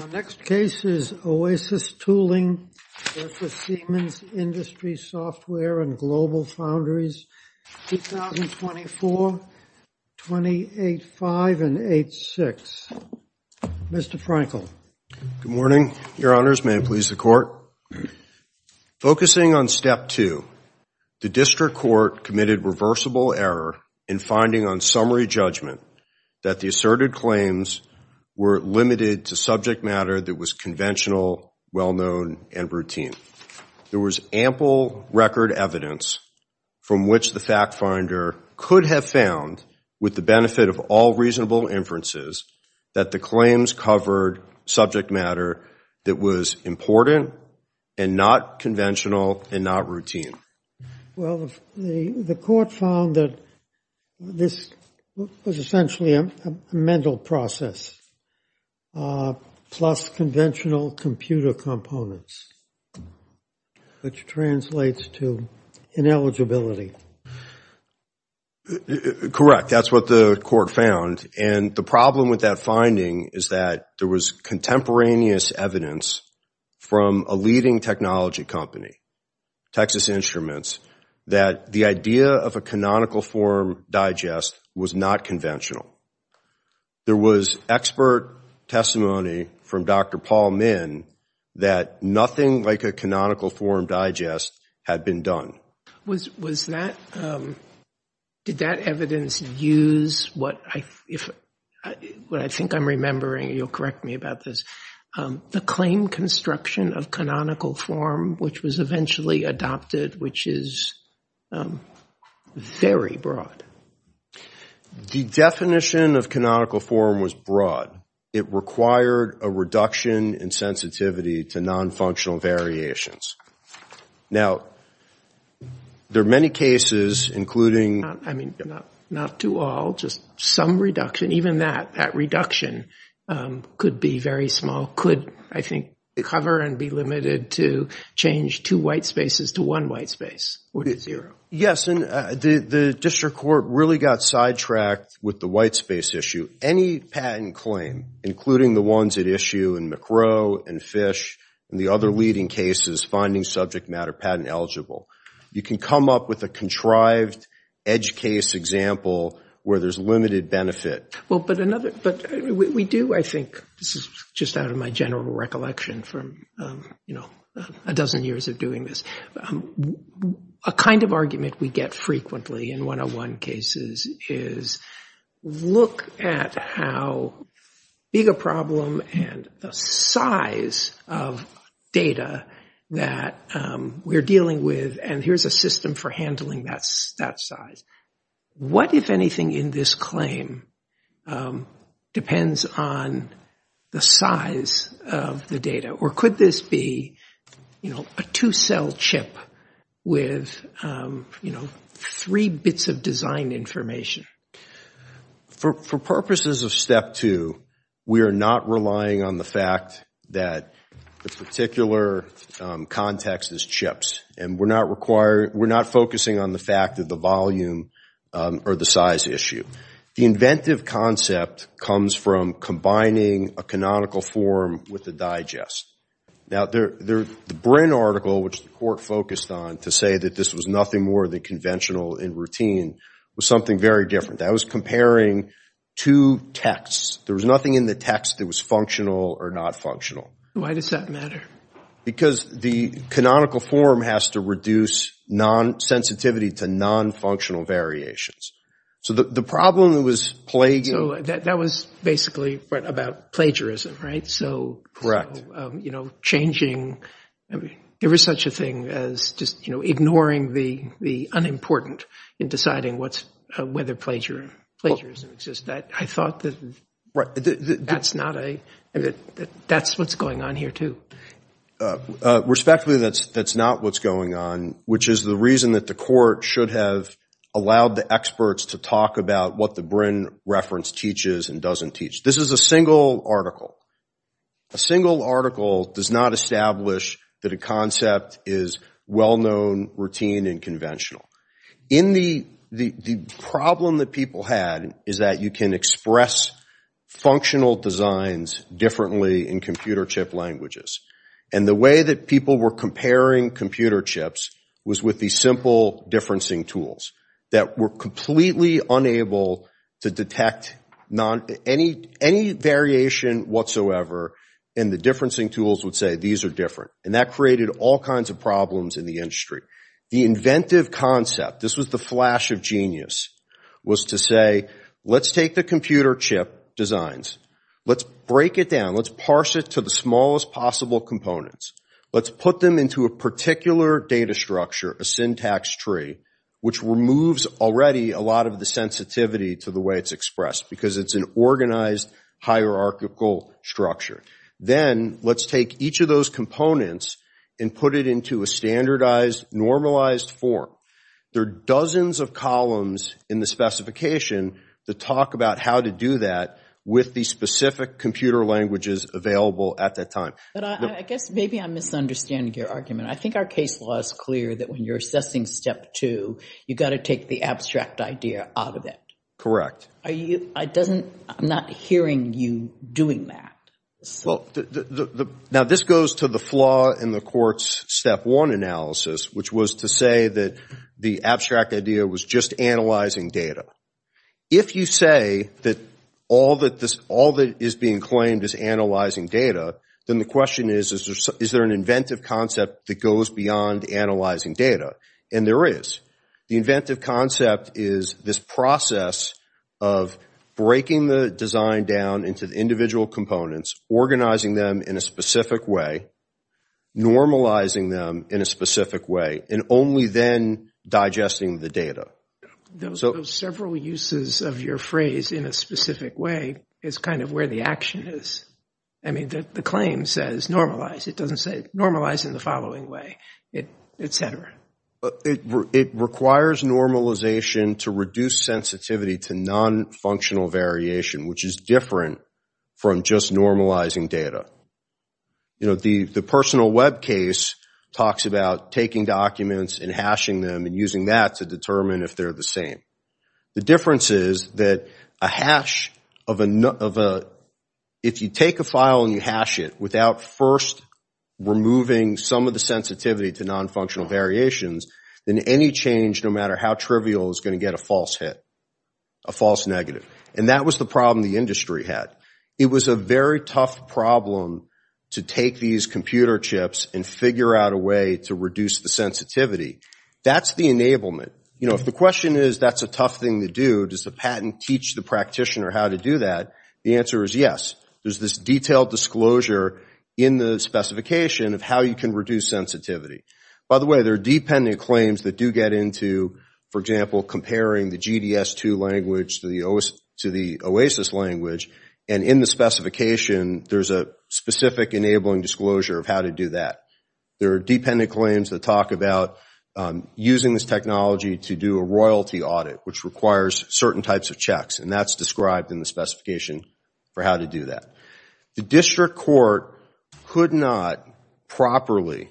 Our next case is Oasis Tooling v. Siemens Industry Software & Global Foundries, 2024, 28-5 and 8-6. Mr. Frankel. Good morning, Your Honors. May it please the Court. Focusing on Step 2, the District Court committed reversible error in finding on summary judgment that the asserted claims were limited to subject matter that was conventional, well-known, and routine. There was ample record evidence from which the fact finder could have found, with the benefit of all reasonable inferences, that the claims covered subject matter that was important and not conventional and not routine. Well, the Court found that this was essentially a mental process, plus conventional computer components, which translates to ineligibility. Correct. That's what the Court found. And the problem with that finding is that there was contemporaneous evidence from a leading technology company, Texas Instruments, that the idea of a canonical form digest was not conventional. There was expert testimony from Dr. Paul Min that nothing like a canonical form digest had been done. Did that evidence use what I think I'm remembering? You'll correct me about this. The claim construction of canonical form, which was eventually adopted, which is very broad. The definition of canonical form was broad. It required a reduction in sensitivity to nonfunctional variations. Now, there are many cases, including... Not to all, just some reduction. Even that, that reduction could be very small, could, I think, cover and be limited to change two white spaces to one white space. Yes, and the District Court really got sidetracked with the white space issue. Any patent claim, including the ones at issue in McCrow and Fish and the other leading cases finding subject matter patent eligible, you can come up with a contrived edge case example where there's limited benefit. But we do, I think, just out of my general recollection from a dozen years of doing this, a kind of argument we get frequently in 101 cases is look at how big a problem and the size of data that we're dealing with. And here's a system for handling that size. What, if anything, in this claim depends on the size of the data? Or could this be a two-cell chip with three bits of design information? For purposes of step two, we are not relying on the fact that the particular context is chips. And we're not focusing on the fact of the volume or the size issue. The inventive concept comes from combining a canonical form with a digest. Now, the Brin article, which the court focused on to say that this was nothing more than conventional and routine, was something very different. That was comparing two texts. There was nothing in the text that was functional or not functional. Why does that matter? Because the canonical form has to reduce sensitivity to nonfunctional variations. So the problem was plaguing. So that was basically about plagiarism, right? Correct. Changing every such a thing as just ignoring the unimportant in deciding whether plagiarism exists. I thought that that's what's going on here, too. Respectfully, that's not what's going on, which is the reason that the court should have allowed the experts to talk about what the Brin reference teaches and doesn't teach. This is a single article. A single article does not establish that a concept is well-known, routine, and conventional. The problem that people had is that you can express functional designs differently in computer chip languages. And the way that people were comparing computer chips was with these simple differencing tools that were completely unable to detect any variation whatsoever, and the differencing tools would say these are different. And that created all kinds of problems in the industry. The inventive concept, this was the flash of genius, was to say let's take the computer chip designs. Let's break it down. Let's parse it to the smallest possible components. Let's put them into a particular data structure, a syntax tree, which removes already a lot of the sensitivity to the way it's expressed because it's an organized hierarchical structure. Then let's take each of those components and put it into a standardized, normalized form. There are dozens of columns in the specification that talk about how to do that with the specific computer languages available at that time. But I guess maybe I'm misunderstanding your argument. I think our case law is clear that when you're assessing step two, you've got to take the abstract idea out of it. I'm not hearing you doing that. Now this goes to the flaw in the court's step one analysis, which was to say that the abstract idea was just analyzing data. If you say that all that is being claimed is analyzing data, then the question is, is there an inventive concept that goes beyond analyzing data? And there is. The inventive concept is this process of breaking the design down into the individual components, organizing them in a specific way, normalizing them in a specific way, and only then digesting the data. Those several uses of your phrase in a specific way is kind of where the action is. The claim says normalize. It doesn't say normalize in the following way, et cetera. It requires normalization to reduce sensitivity to non-functional variation, which is different from just normalizing data. The personal web case talks about taking documents and hashing them and using that to determine if they're the same. The difference is that a hash of a – if you take a file and you hash it without first removing some of the sensitivity to non-functional variations, then any change, no matter how trivial, is going to get a false hit, a false negative. And that was the problem the industry had. It was a very tough problem to take these computer chips and figure out a way to reduce the sensitivity. That's the enablement. If the question is that's a tough thing to do, does the patent teach the practitioner how to do that, the answer is yes. There's this detailed disclosure in the specification of how you can reduce sensitivity. By the way, there are dependent claims that do get into, for example, comparing the GDS2 language to the OASIS language, and in the specification, there's a specific enabling disclosure of how to do that. There are dependent claims that talk about using this technology to do a royalty audit, which requires certain types of checks, and that's described in the specification for how to do that. The district court could not properly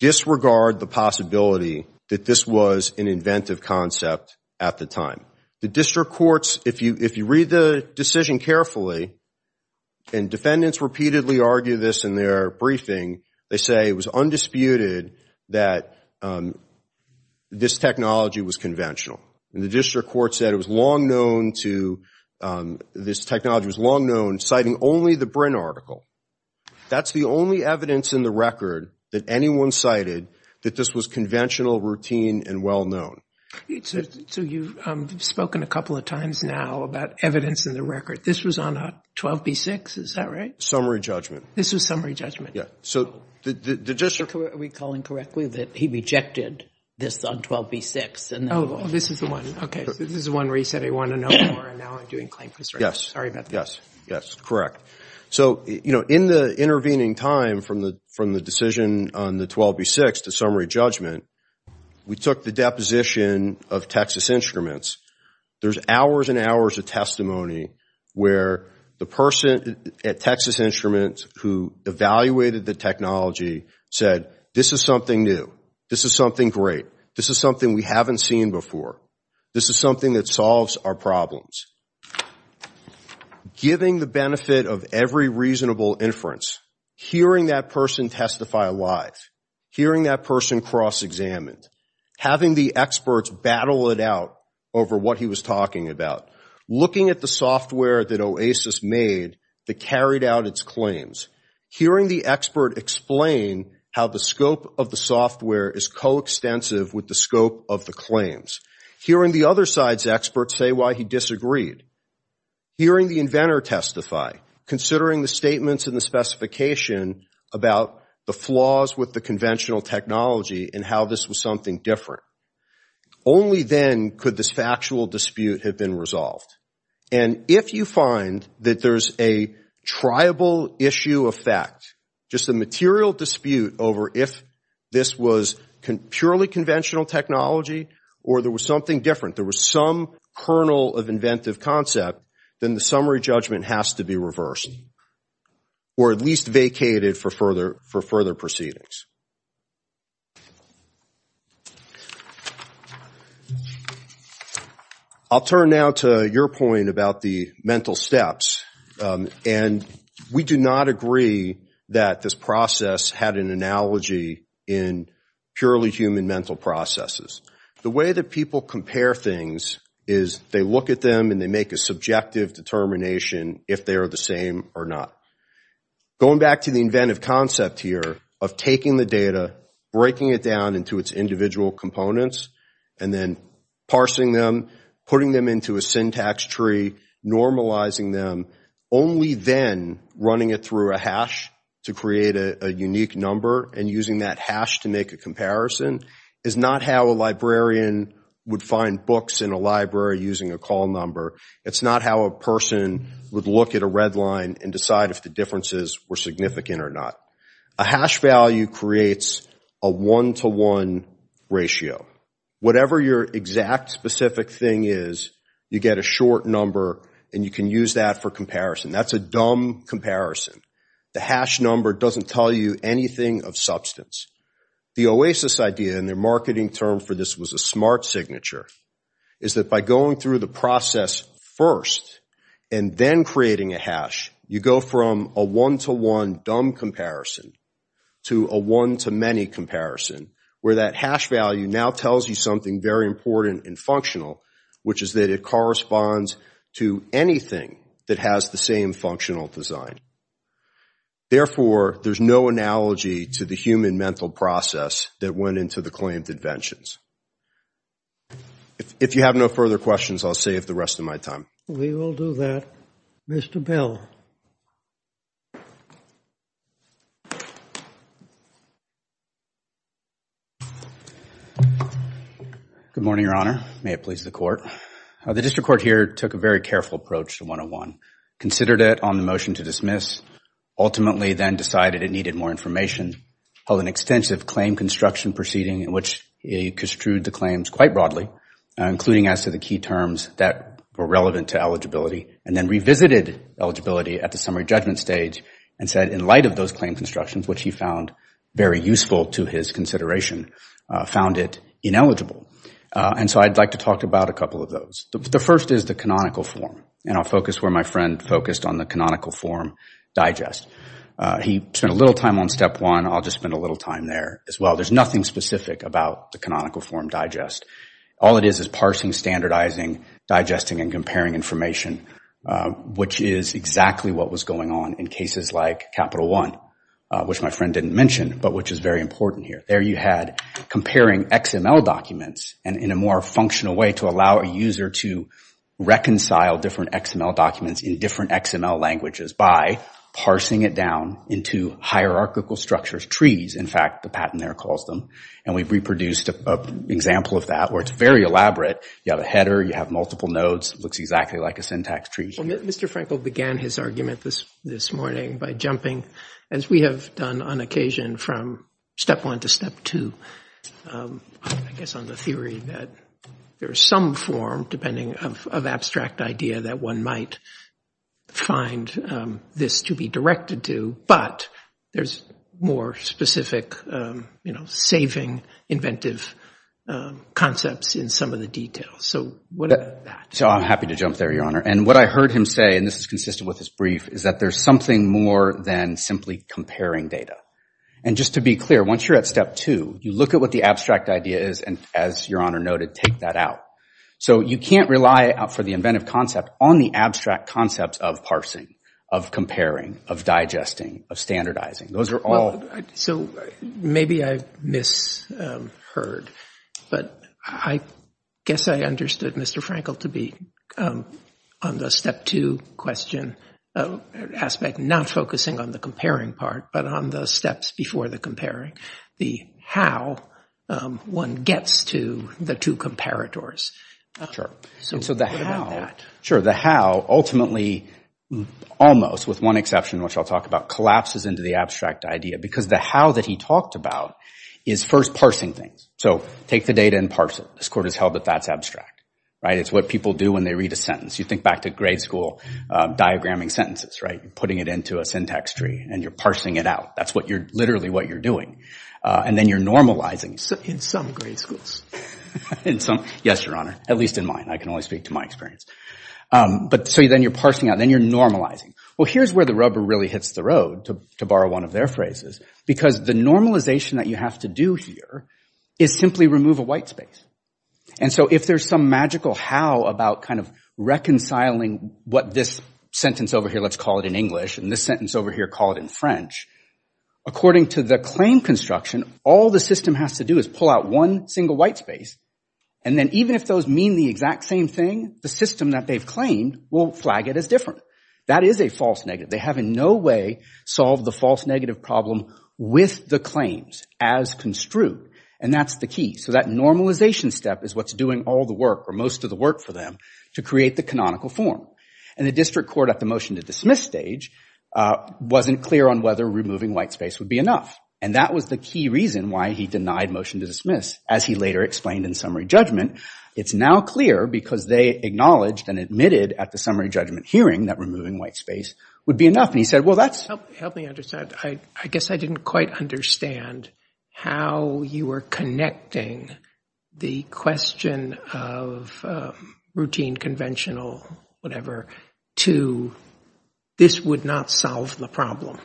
disregard the possibility that this was an inventive concept at the time. The district courts, if you read the decision carefully, and defendants repeatedly argue this in their briefing, they say it was undisputed that this technology was conventional. And the district court said it was long known to, this technology was long known, citing only the Brin article. That's the only evidence in the record that anyone cited that this was conventional, routine, and well known. So you've spoken a couple of times now about evidence in the record. This was on 12B-6, is that right? Summary judgment. This was summary judgment. So the district court. Are we calling correctly that he rejected this on 12B-6? Oh, this is the one. Okay. This is the one where he said he wanted to know more, and now I'm doing claims. Yes. Sorry about that. Yes. Yes. Correct. So, you know, in the intervening time from the decision on the 12B-6 to summary judgment, we took the deposition of Texas Instruments. There's hours and hours of testimony where the person at Texas Instruments who evaluated the technology said, this is something new. This is something great. This is something we haven't seen before. This is something that solves our problems. Giving the benefit of every reasonable inference, hearing that person testify alive, hearing that person cross examined, having the experts battle it out over what he was talking about, looking at the software that OASIS made that carried out its claims, hearing the expert explain how the scope of the software is coextensive with the scope of the claims, hearing the other side's experts say why he disagreed, hearing the inventor testify, considering the statements and the specification about the flaws with the conventional technology and how this was something different. Only then could this factual dispute have been resolved. And if you find that there's a triable issue of fact, just a material dispute over if this was purely conventional technology or there was something different, there was some kernel of inventive concept, then the summary judgment has to be reversed or at least vacated for further proceedings. I'll turn now to your point about the mental steps. And we do not agree that this process had an analogy in purely human mental processes. The way that people compare things is they look at them and they make a subjective determination if they are the same or not. Going back to the inventive concept here of taking the data, breaking it down into its individual components, and then parsing them, putting them into a syntax tree, normalizing them, only then running it through a hash to create a unique number and using that hash to make a comparison is not how a librarian would find books in a library using a call number. It's not how a person would look at a red line and decide if the differences were significant or not. A hash value creates a one-to-one ratio. Whatever your exact specific thing is, you get a short number and you can use that for comparison. That's a dumb comparison. The hash number doesn't tell you anything of substance. The OASIS idea, and their marketing term for this was a smart signature, is that by going through the process first and then creating a hash, you go from a one-to-one dumb comparison to a one-to-many comparison where that hash value now tells you something very important and functional, which is that it corresponds to anything that has the same functional design. Therefore, there's no analogy to the human mental process that went into the claimed inventions. If you have no further questions, I'll save the rest of my time. We will do that. Mr. Bell. Good morning, Your Honor. May it please the court. The district court here took a very careful approach to one-to-one, considered it on the motion to dismiss, ultimately then decided it needed more information, held an extensive claim construction proceeding in which it construed the claims quite broadly, including as to the key terms that were relevant to eligibility, and then revisited eligibility at the summary judgment stage and said in light of those claim constructions, which he found very useful to his consideration, found it ineligible. And so I'd like to talk about a couple of those. The first is the canonical form, and I'll focus where my friend focused on the canonical form digest. He spent a little time on step one. I'll just spend a little time there as well. There's nothing specific about the canonical form digest. All it is is parsing, standardizing, digesting, and comparing information, which is exactly what was going on in cases like Capital One, which my friend didn't mention, but which is very important here. There you had comparing XML documents in a more functional way to allow a user to reconcile different XML documents in different XML languages by parsing it down into hierarchical structures, trees, in fact, the patent there calls them, and we've reproduced an example of that where it's very elaborate. You have a header. You have multiple nodes. It looks exactly like a syntax tree. Well, Mr. Frankel began his argument this morning by jumping, as we have done on occasion, from step one to step two, I guess on the theory that there is some form, depending of abstract idea, that one might find this to be directed to, but there's more specific, you know, saving inventive concepts in some of the details. So what about that? So I'm happy to jump there, Your Honor. And what I heard him say, and this is consistent with his brief, is that there's something more than simply comparing data. And just to be clear, once you're at step two, you look at what the abstract idea is, and as Your Honor noted, take that out. So you can't rely for the inventive concept on the abstract concepts of parsing, of comparing, of digesting, of standardizing. Those are all – So maybe I misheard, but I guess I understood Mr. Frankel to be on the step two question aspect, not focusing on the comparing part, but on the steps before the comparing, the how one gets to the two comparators. So what about that? Sure. The how ultimately almost, with one exception which I'll talk about, collapses into the abstract idea because the how that he talked about is first parsing things. So take the data and parse it. This Court has held that that's abstract, right? It's what people do when they read a sentence. You think back to grade school diagramming sentences, right? You're putting it into a syntax tree and you're parsing it out. That's literally what you're doing. And then you're normalizing. In some grade schools. Yes, Your Honor, at least in mine. I can only speak to my experience. So then you're parsing out. Then you're normalizing. Well, here's where the rubber really hits the road, to borrow one of their phrases, because the normalization that you have to do here is simply remove a white space. And so if there's some magical how about kind of reconciling what this sentence over here, let's call it in English, and this sentence over here, call it in French, according to the claim construction, all the system has to do is pull out one single white space. And then even if those mean the exact same thing, the system that they've claimed will flag it as different. That is a false negative. They have in no way solved the false negative problem with the claims as construed. And that's the key. So that normalization step is what's doing all the work or most of the work for them to create the canonical form. And the district court at the motion to dismiss stage wasn't clear on whether removing white space would be enough. And that was the key reason why he denied motion to dismiss. As he later explained in summary judgment, it's now clear because they acknowledged and admitted at the summary judgment hearing that removing white space would be enough. And he said, well, that's- Help me understand. I guess I didn't quite understand how you were connecting the question of routine, conventional, whatever, to this would not solve the problem.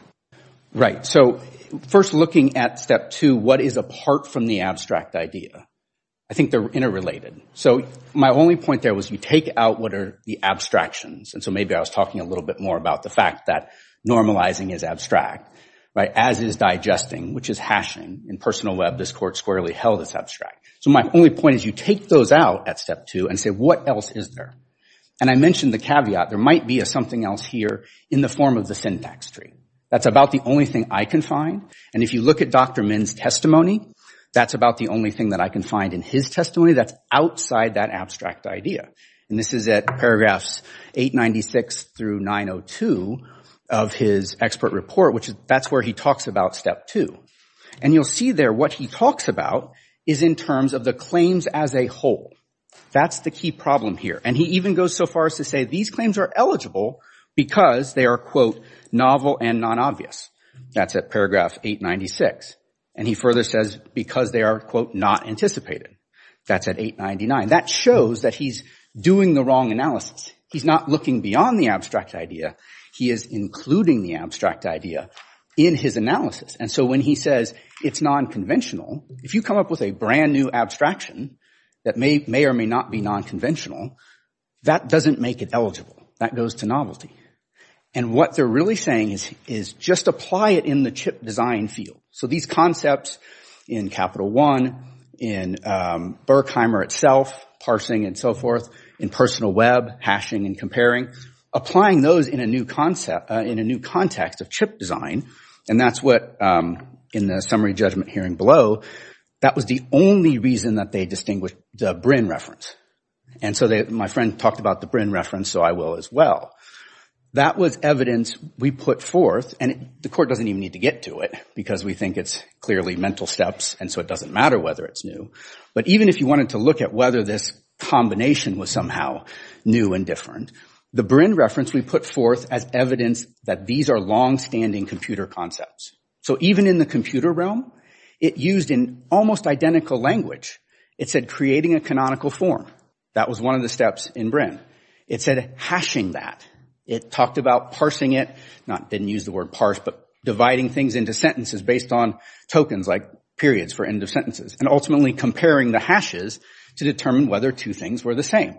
Right. So first looking at step two, what is apart from the abstract idea? I think they're interrelated. So my only point there was you take out what are the abstractions. And so maybe I was talking a little bit more about the fact that normalizing is abstract, as is digesting, which is hashing. In personal web, this court squarely held it's abstract. So my only point is you take those out at step two and say, what else is there? And I mentioned the caveat. There might be something else here in the form of the syntax tree. That's about the only thing I can find. And if you look at Dr. Min's testimony, that's about the only thing that I can find in his testimony that's outside that abstract idea. And this is at paragraphs 896 through 902 of his expert report, which that's where he talks about step two. And you'll see there what he talks about is in terms of the claims as a whole. That's the key problem here. And he even goes so far as to say these claims are eligible because they are, quote, novel and non-obvious. That's at paragraph 896. And he further says because they are, quote, not anticipated. That's at 899. That shows that he's doing the wrong analysis. He's not looking beyond the abstract idea. He is including the abstract idea in his analysis. And so when he says it's non-conventional, if you come up with a brand new abstraction that may or may not be non-conventional, that doesn't make it eligible. That goes to novelty. And what they're really saying is just apply it in the chip design field. So these concepts in Capital One, in Berkheimer itself, parsing and so forth, in personal web, hashing and comparing, applying those in a new context of chip design, and that's what in the summary judgment hearing below, that was the only reason that they distinguished the Brin reference. And so my friend talked about the Brin reference, so I will as well. That was evidence we put forth, and the court doesn't even need to get to it because we think it's clearly mental steps, and so it doesn't matter whether it's new. But even if you wanted to look at whether this combination was somehow new and different, the Brin reference we put forth as evidence that these are longstanding computer concepts. So even in the computer realm, it used an almost identical language. It said creating a canonical form. That was one of the steps in Brin. It said hashing that. It talked about parsing it, didn't use the word parse, but dividing things into sentences based on tokens, like periods for end of sentences, and ultimately comparing the hashes to determine whether two things were the same.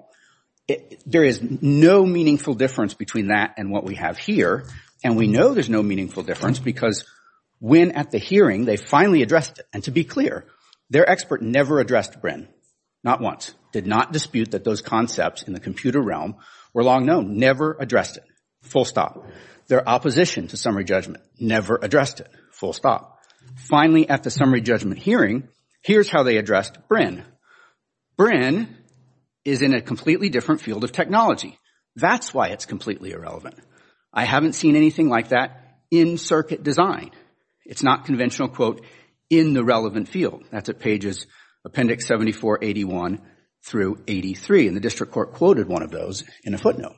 There is no meaningful difference between that and what we have here, and we know there's no meaningful difference because when at the hearing they finally addressed it. And to be clear, their expert never addressed Brin. Not once. Did not dispute that those concepts in the computer realm were long known. Never addressed it. Full stop. Their opposition to summary judgment. Never addressed it. Full stop. Finally, at the summary judgment hearing, here's how they addressed Brin. Brin is in a completely different field of technology. That's why it's completely irrelevant. I haven't seen anything like that in circuit design. It's not conventional, quote, in the relevant field. That's at pages Appendix 74, 81 through 83, and the district court quoted one of those in a footnote.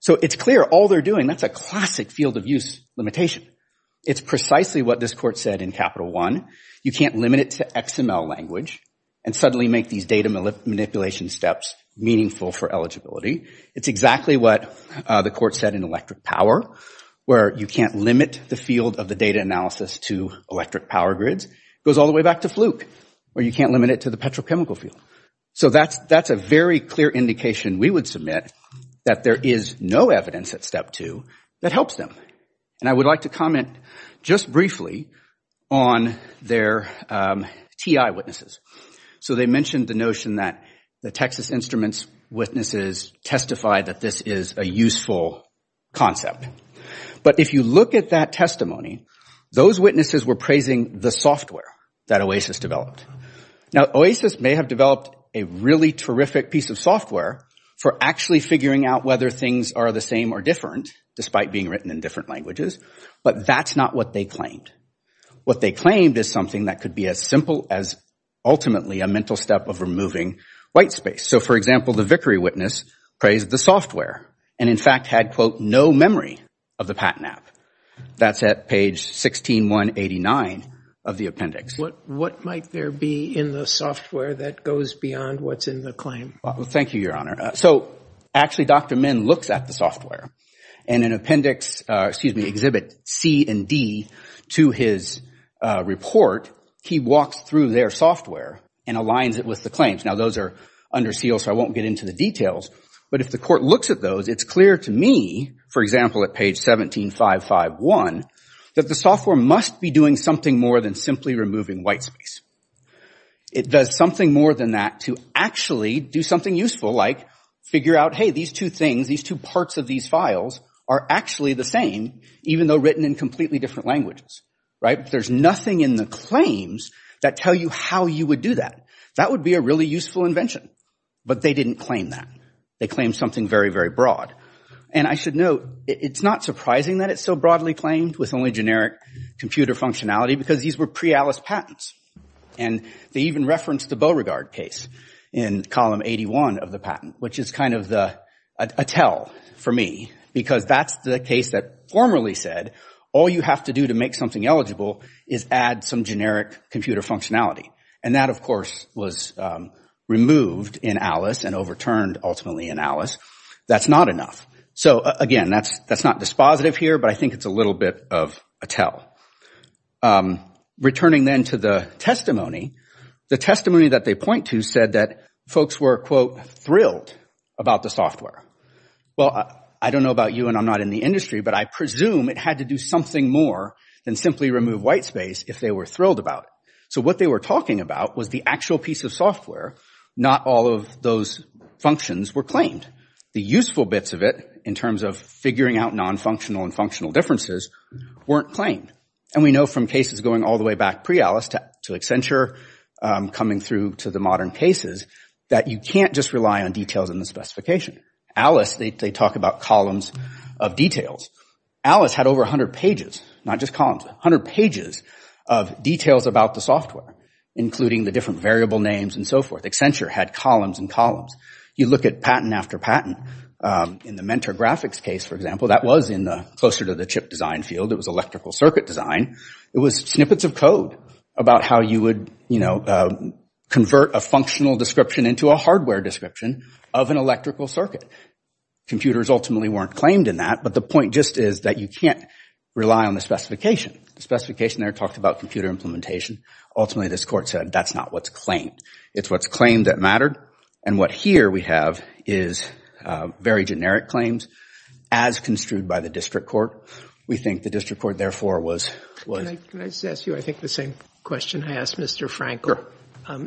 So it's clear all they're doing, that's a classic field of use limitation. It's precisely what this court said in Capital One. You can't limit it to XML language and suddenly make these data manipulation steps meaningful for eligibility. It's exactly what the court said in electric power, where you can't limit the field of the data analysis to electric power grids. It goes all the way back to Fluke, where you can't limit it to the petrochemical field. So that's a very clear indication we would submit that there is no evidence at Step 2 that helps them. And I would like to comment just briefly on their TI witnesses. So they mentioned the notion that the Texas Instruments witnesses testified that this is a useful concept. But if you look at that testimony, those witnesses were praising the software that OASIS developed. Now, OASIS may have developed a really terrific piece of software for actually figuring out whether things are the same or different, despite being written in different languages, but that's not what they claimed. What they claimed is something that could be as simple as ultimately a mental step of removing white space. So, for example, the Vickery witness praised the software and, in fact, had, quote, no memory of the patent app. That's at page 16189 of the appendix. What might there be in the software that goes beyond what's in the claim? Thank you, Your Honor. So, actually, Dr. Min looks at the software, and in appendix, excuse me, exhibit C and D to his report, he walks through their software and aligns it with the claims. Now, those are under seal, so I won't get into the details. But if the court looks at those, it's clear to me, for example, at page 17551, that the software must be doing something more than simply removing white space. It does something more than that to actually do something useful like figure out, hey, these two things, these two parts of these files are actually the same, even though written in completely different languages, right? There's nothing in the claims that tell you how you would do that. That would be a really useful invention. But they didn't claim that. They claimed something very, very broad. And I should note, it's not surprising that it's so broadly claimed with only generic computer functionality because these were pre-ALICE patents. And they even referenced the Beauregard case in column 81 of the patent, which is kind of a tell for me because that's the case that formerly said all you have to do to make something eligible is add some generic computer functionality. And that, of course, was removed in ALICE and overturned ultimately in ALICE. That's not enough. So, again, that's not dispositive here, but I think it's a little bit of a tell. Returning then to the testimony, the testimony that they point to said that folks were, quote, thrilled about the software. Well, I don't know about you, and I'm not in the industry, but I presume it had to do something more than simply remove white space if they were thrilled about it. So what they were talking about was the actual piece of software. Not all of those functions were claimed. The useful bits of it in terms of figuring out non-functional and functional differences weren't claimed. And we know from cases going all the way back pre-ALICE to Accenture coming through to the modern cases that you can't just rely on details in the specification. ALICE, they talk about columns of details. ALICE had over 100 pages, not just columns, 100 pages of details about the software, including the different variable names and so forth. Accenture had columns and columns. You look at patent after patent. In the mentor graphics case, for example, that was in the closer to the chip design field. It was electrical circuit design. It was snippets of code about how you would, you know, convert a functional description into a hardware description of an electrical circuit. Computers ultimately weren't claimed in that, but the point just is that you can't rely on the specification. The specification there talked about computer implementation. Ultimately, this court said that's not what's claimed. It's what's claimed that mattered. And what here we have is very generic claims as construed by the district court. We think the district court, therefore, was- Can I just ask you I think the same question I asked Mr. Frankel?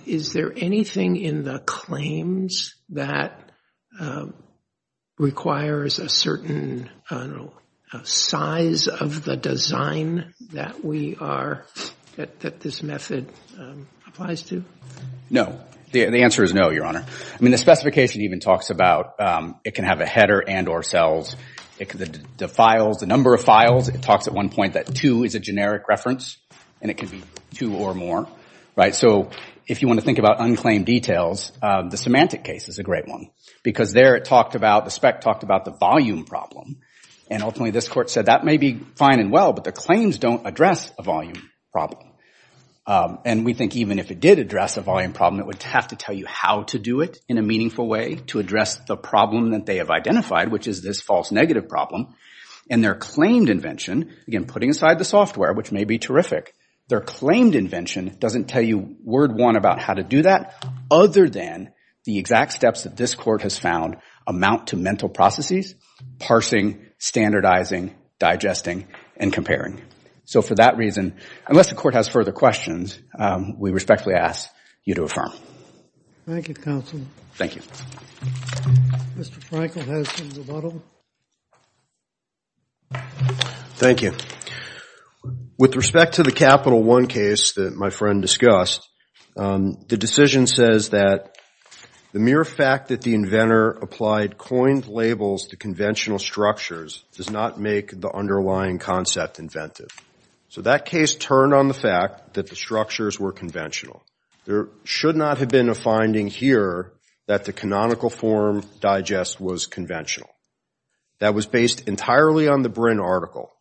Is there anything in the claims that requires a certain size of the design that we are- that this method applies to? No. The answer is no, Your Honor. I mean, the specification even talks about it can have a header and or cells. The files, the number of files, it talks at one point that two is a generic reference, and it can be two or more, right? So if you want to think about unclaimed details, the semantic case is a great one because there it talked about- the spec talked about the volume problem. And ultimately, this court said that may be fine and well, but the claims don't address a volume problem. And we think even if it did address a volume problem, it would have to tell you how to do it in a meaningful way to address the problem that they have identified, which is this false negative problem. And their claimed invention, again, putting aside the software, which may be terrific, their claimed invention doesn't tell you word one about how to do that, other than the exact steps that this court has found amount to mental processes, parsing, standardizing, digesting, and comparing. So for that reason, unless the court has further questions, we respectfully ask you to affirm. Thank you, counsel. Thank you. Mr. Frankel has the model. Thank you. With respect to the Capital One case that my friend discussed, the decision says that the mere fact that the inventor applied coined labels to conventional structures does not make the underlying concept inventive. So that case turned on the fact that the structures were conventional. There should not have been a finding here that the canonical form digest was conventional. That was based entirely on the Brin article.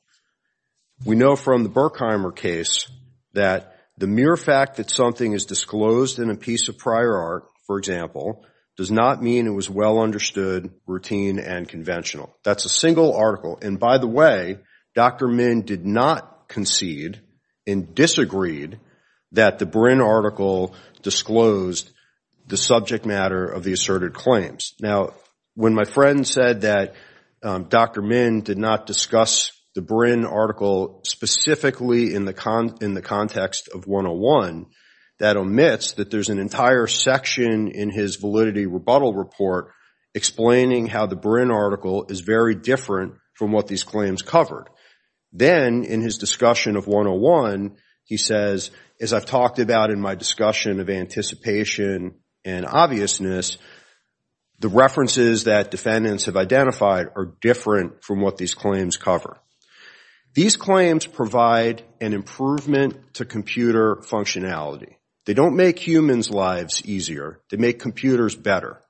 We know from the Berkheimer case that the mere fact that something is disclosed in a piece of prior art, for example, does not mean it was well understood, routine, and conventional. That's a single article. And by the way, Dr. Min did not concede and disagreed that the Brin article disclosed the subject matter of the asserted claims. Now, when my friend said that Dr. Min did not discuss the Brin article specifically in the context of 101, that omits that there's an entire section in his validity rebuttal report explaining how the Brin article is very different from what these claims covered. Then in his discussion of 101, he says, as I've talked about in my discussion of anticipation and obviousness, the references that defendants have identified are different from what these claims cover. These claims provide an improvement to computer functionality. They don't make humans' lives easier. They make computers better.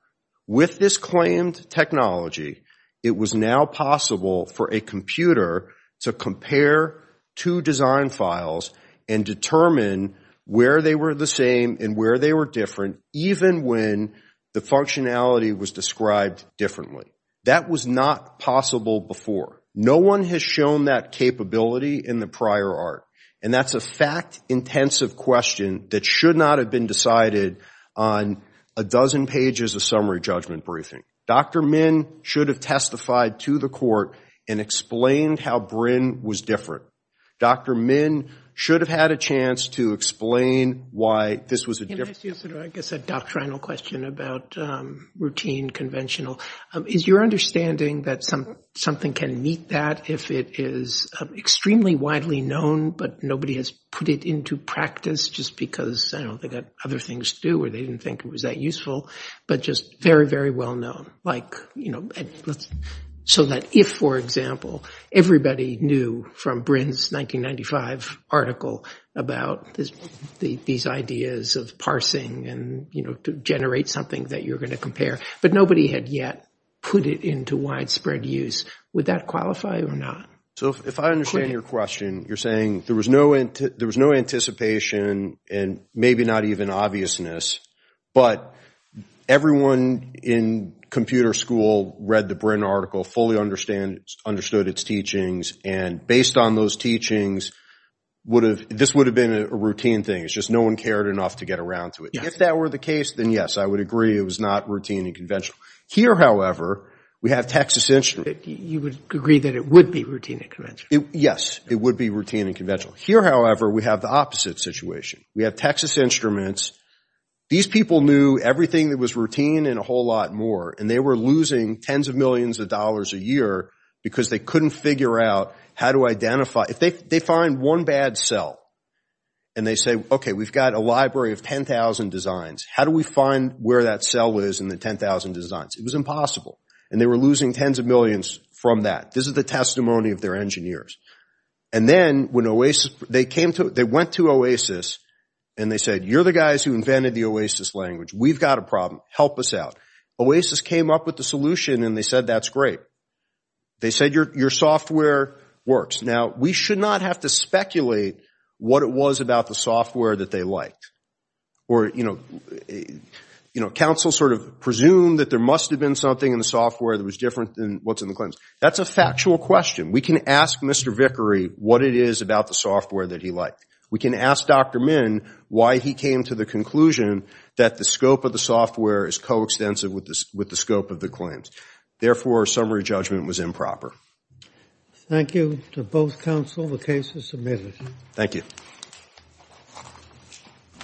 With this claimed technology, it was now possible for a computer to compare two design files and determine where they were the same and where they were different, even when the functionality was described differently. That was not possible before. No one has shown that capability in the prior art, and that's a fact-intensive question that should not have been decided on a dozen pages of summary judgment briefing. Dr. Min should have testified to the court and explained how Brin was different. Dr. Min should have had a chance to explain why this was a difference. Can I ask you sort of, I guess, a doctrinal question about routine, conventional? Is your understanding that something can meet that if it is extremely widely known but nobody has put it into practice just because they've got other things to do or they didn't think it was that useful, but just very, very well known? So that if, for example, everybody knew from Brin's 1995 article about these ideas of parsing and to generate something that you're going to compare, but nobody had yet put it into widespread use, would that qualify or not? So if I understand your question, you're saying there was no anticipation and maybe not even obviousness, but everyone in computer school read the Brin article, fully understood its teachings, and based on those teachings, this would have been a routine thing. It's just no one cared enough to get around to it. If that were the case, then yes, I would agree it was not routine and conventional. Here, however, we have Texas Instruments. You would agree that it would be routine and conventional? Yes, it would be routine and conventional. Here, however, we have the opposite situation. We have Texas Instruments. These people knew everything that was routine and a whole lot more, and they were losing tens of millions of dollars a year because they couldn't figure out how to identify. If they find one bad cell and they say, okay, we've got a library of 10,000 designs. How do we find where that cell is in the 10,000 designs? It was impossible, and they were losing tens of millions from that. This is the testimony of their engineers. And then they went to OASIS, and they said, you're the guys who invented the OASIS language. We've got a problem. Help us out. OASIS came up with the solution, and they said, that's great. They said, your software works. Now, we should not have to speculate what it was about the software that they liked, or counsel sort of presumed that there must have been something in the software that was different than what's in the claims. That's a factual question. We can ask Mr. Vickery what it is about the software that he liked. We can ask Dr. Min why he came to the conclusion that the scope of the software is coextensive with the scope of the claims. Therefore, our summary judgment was improper. Thank you to both counsel. The case is submitted. Thank you.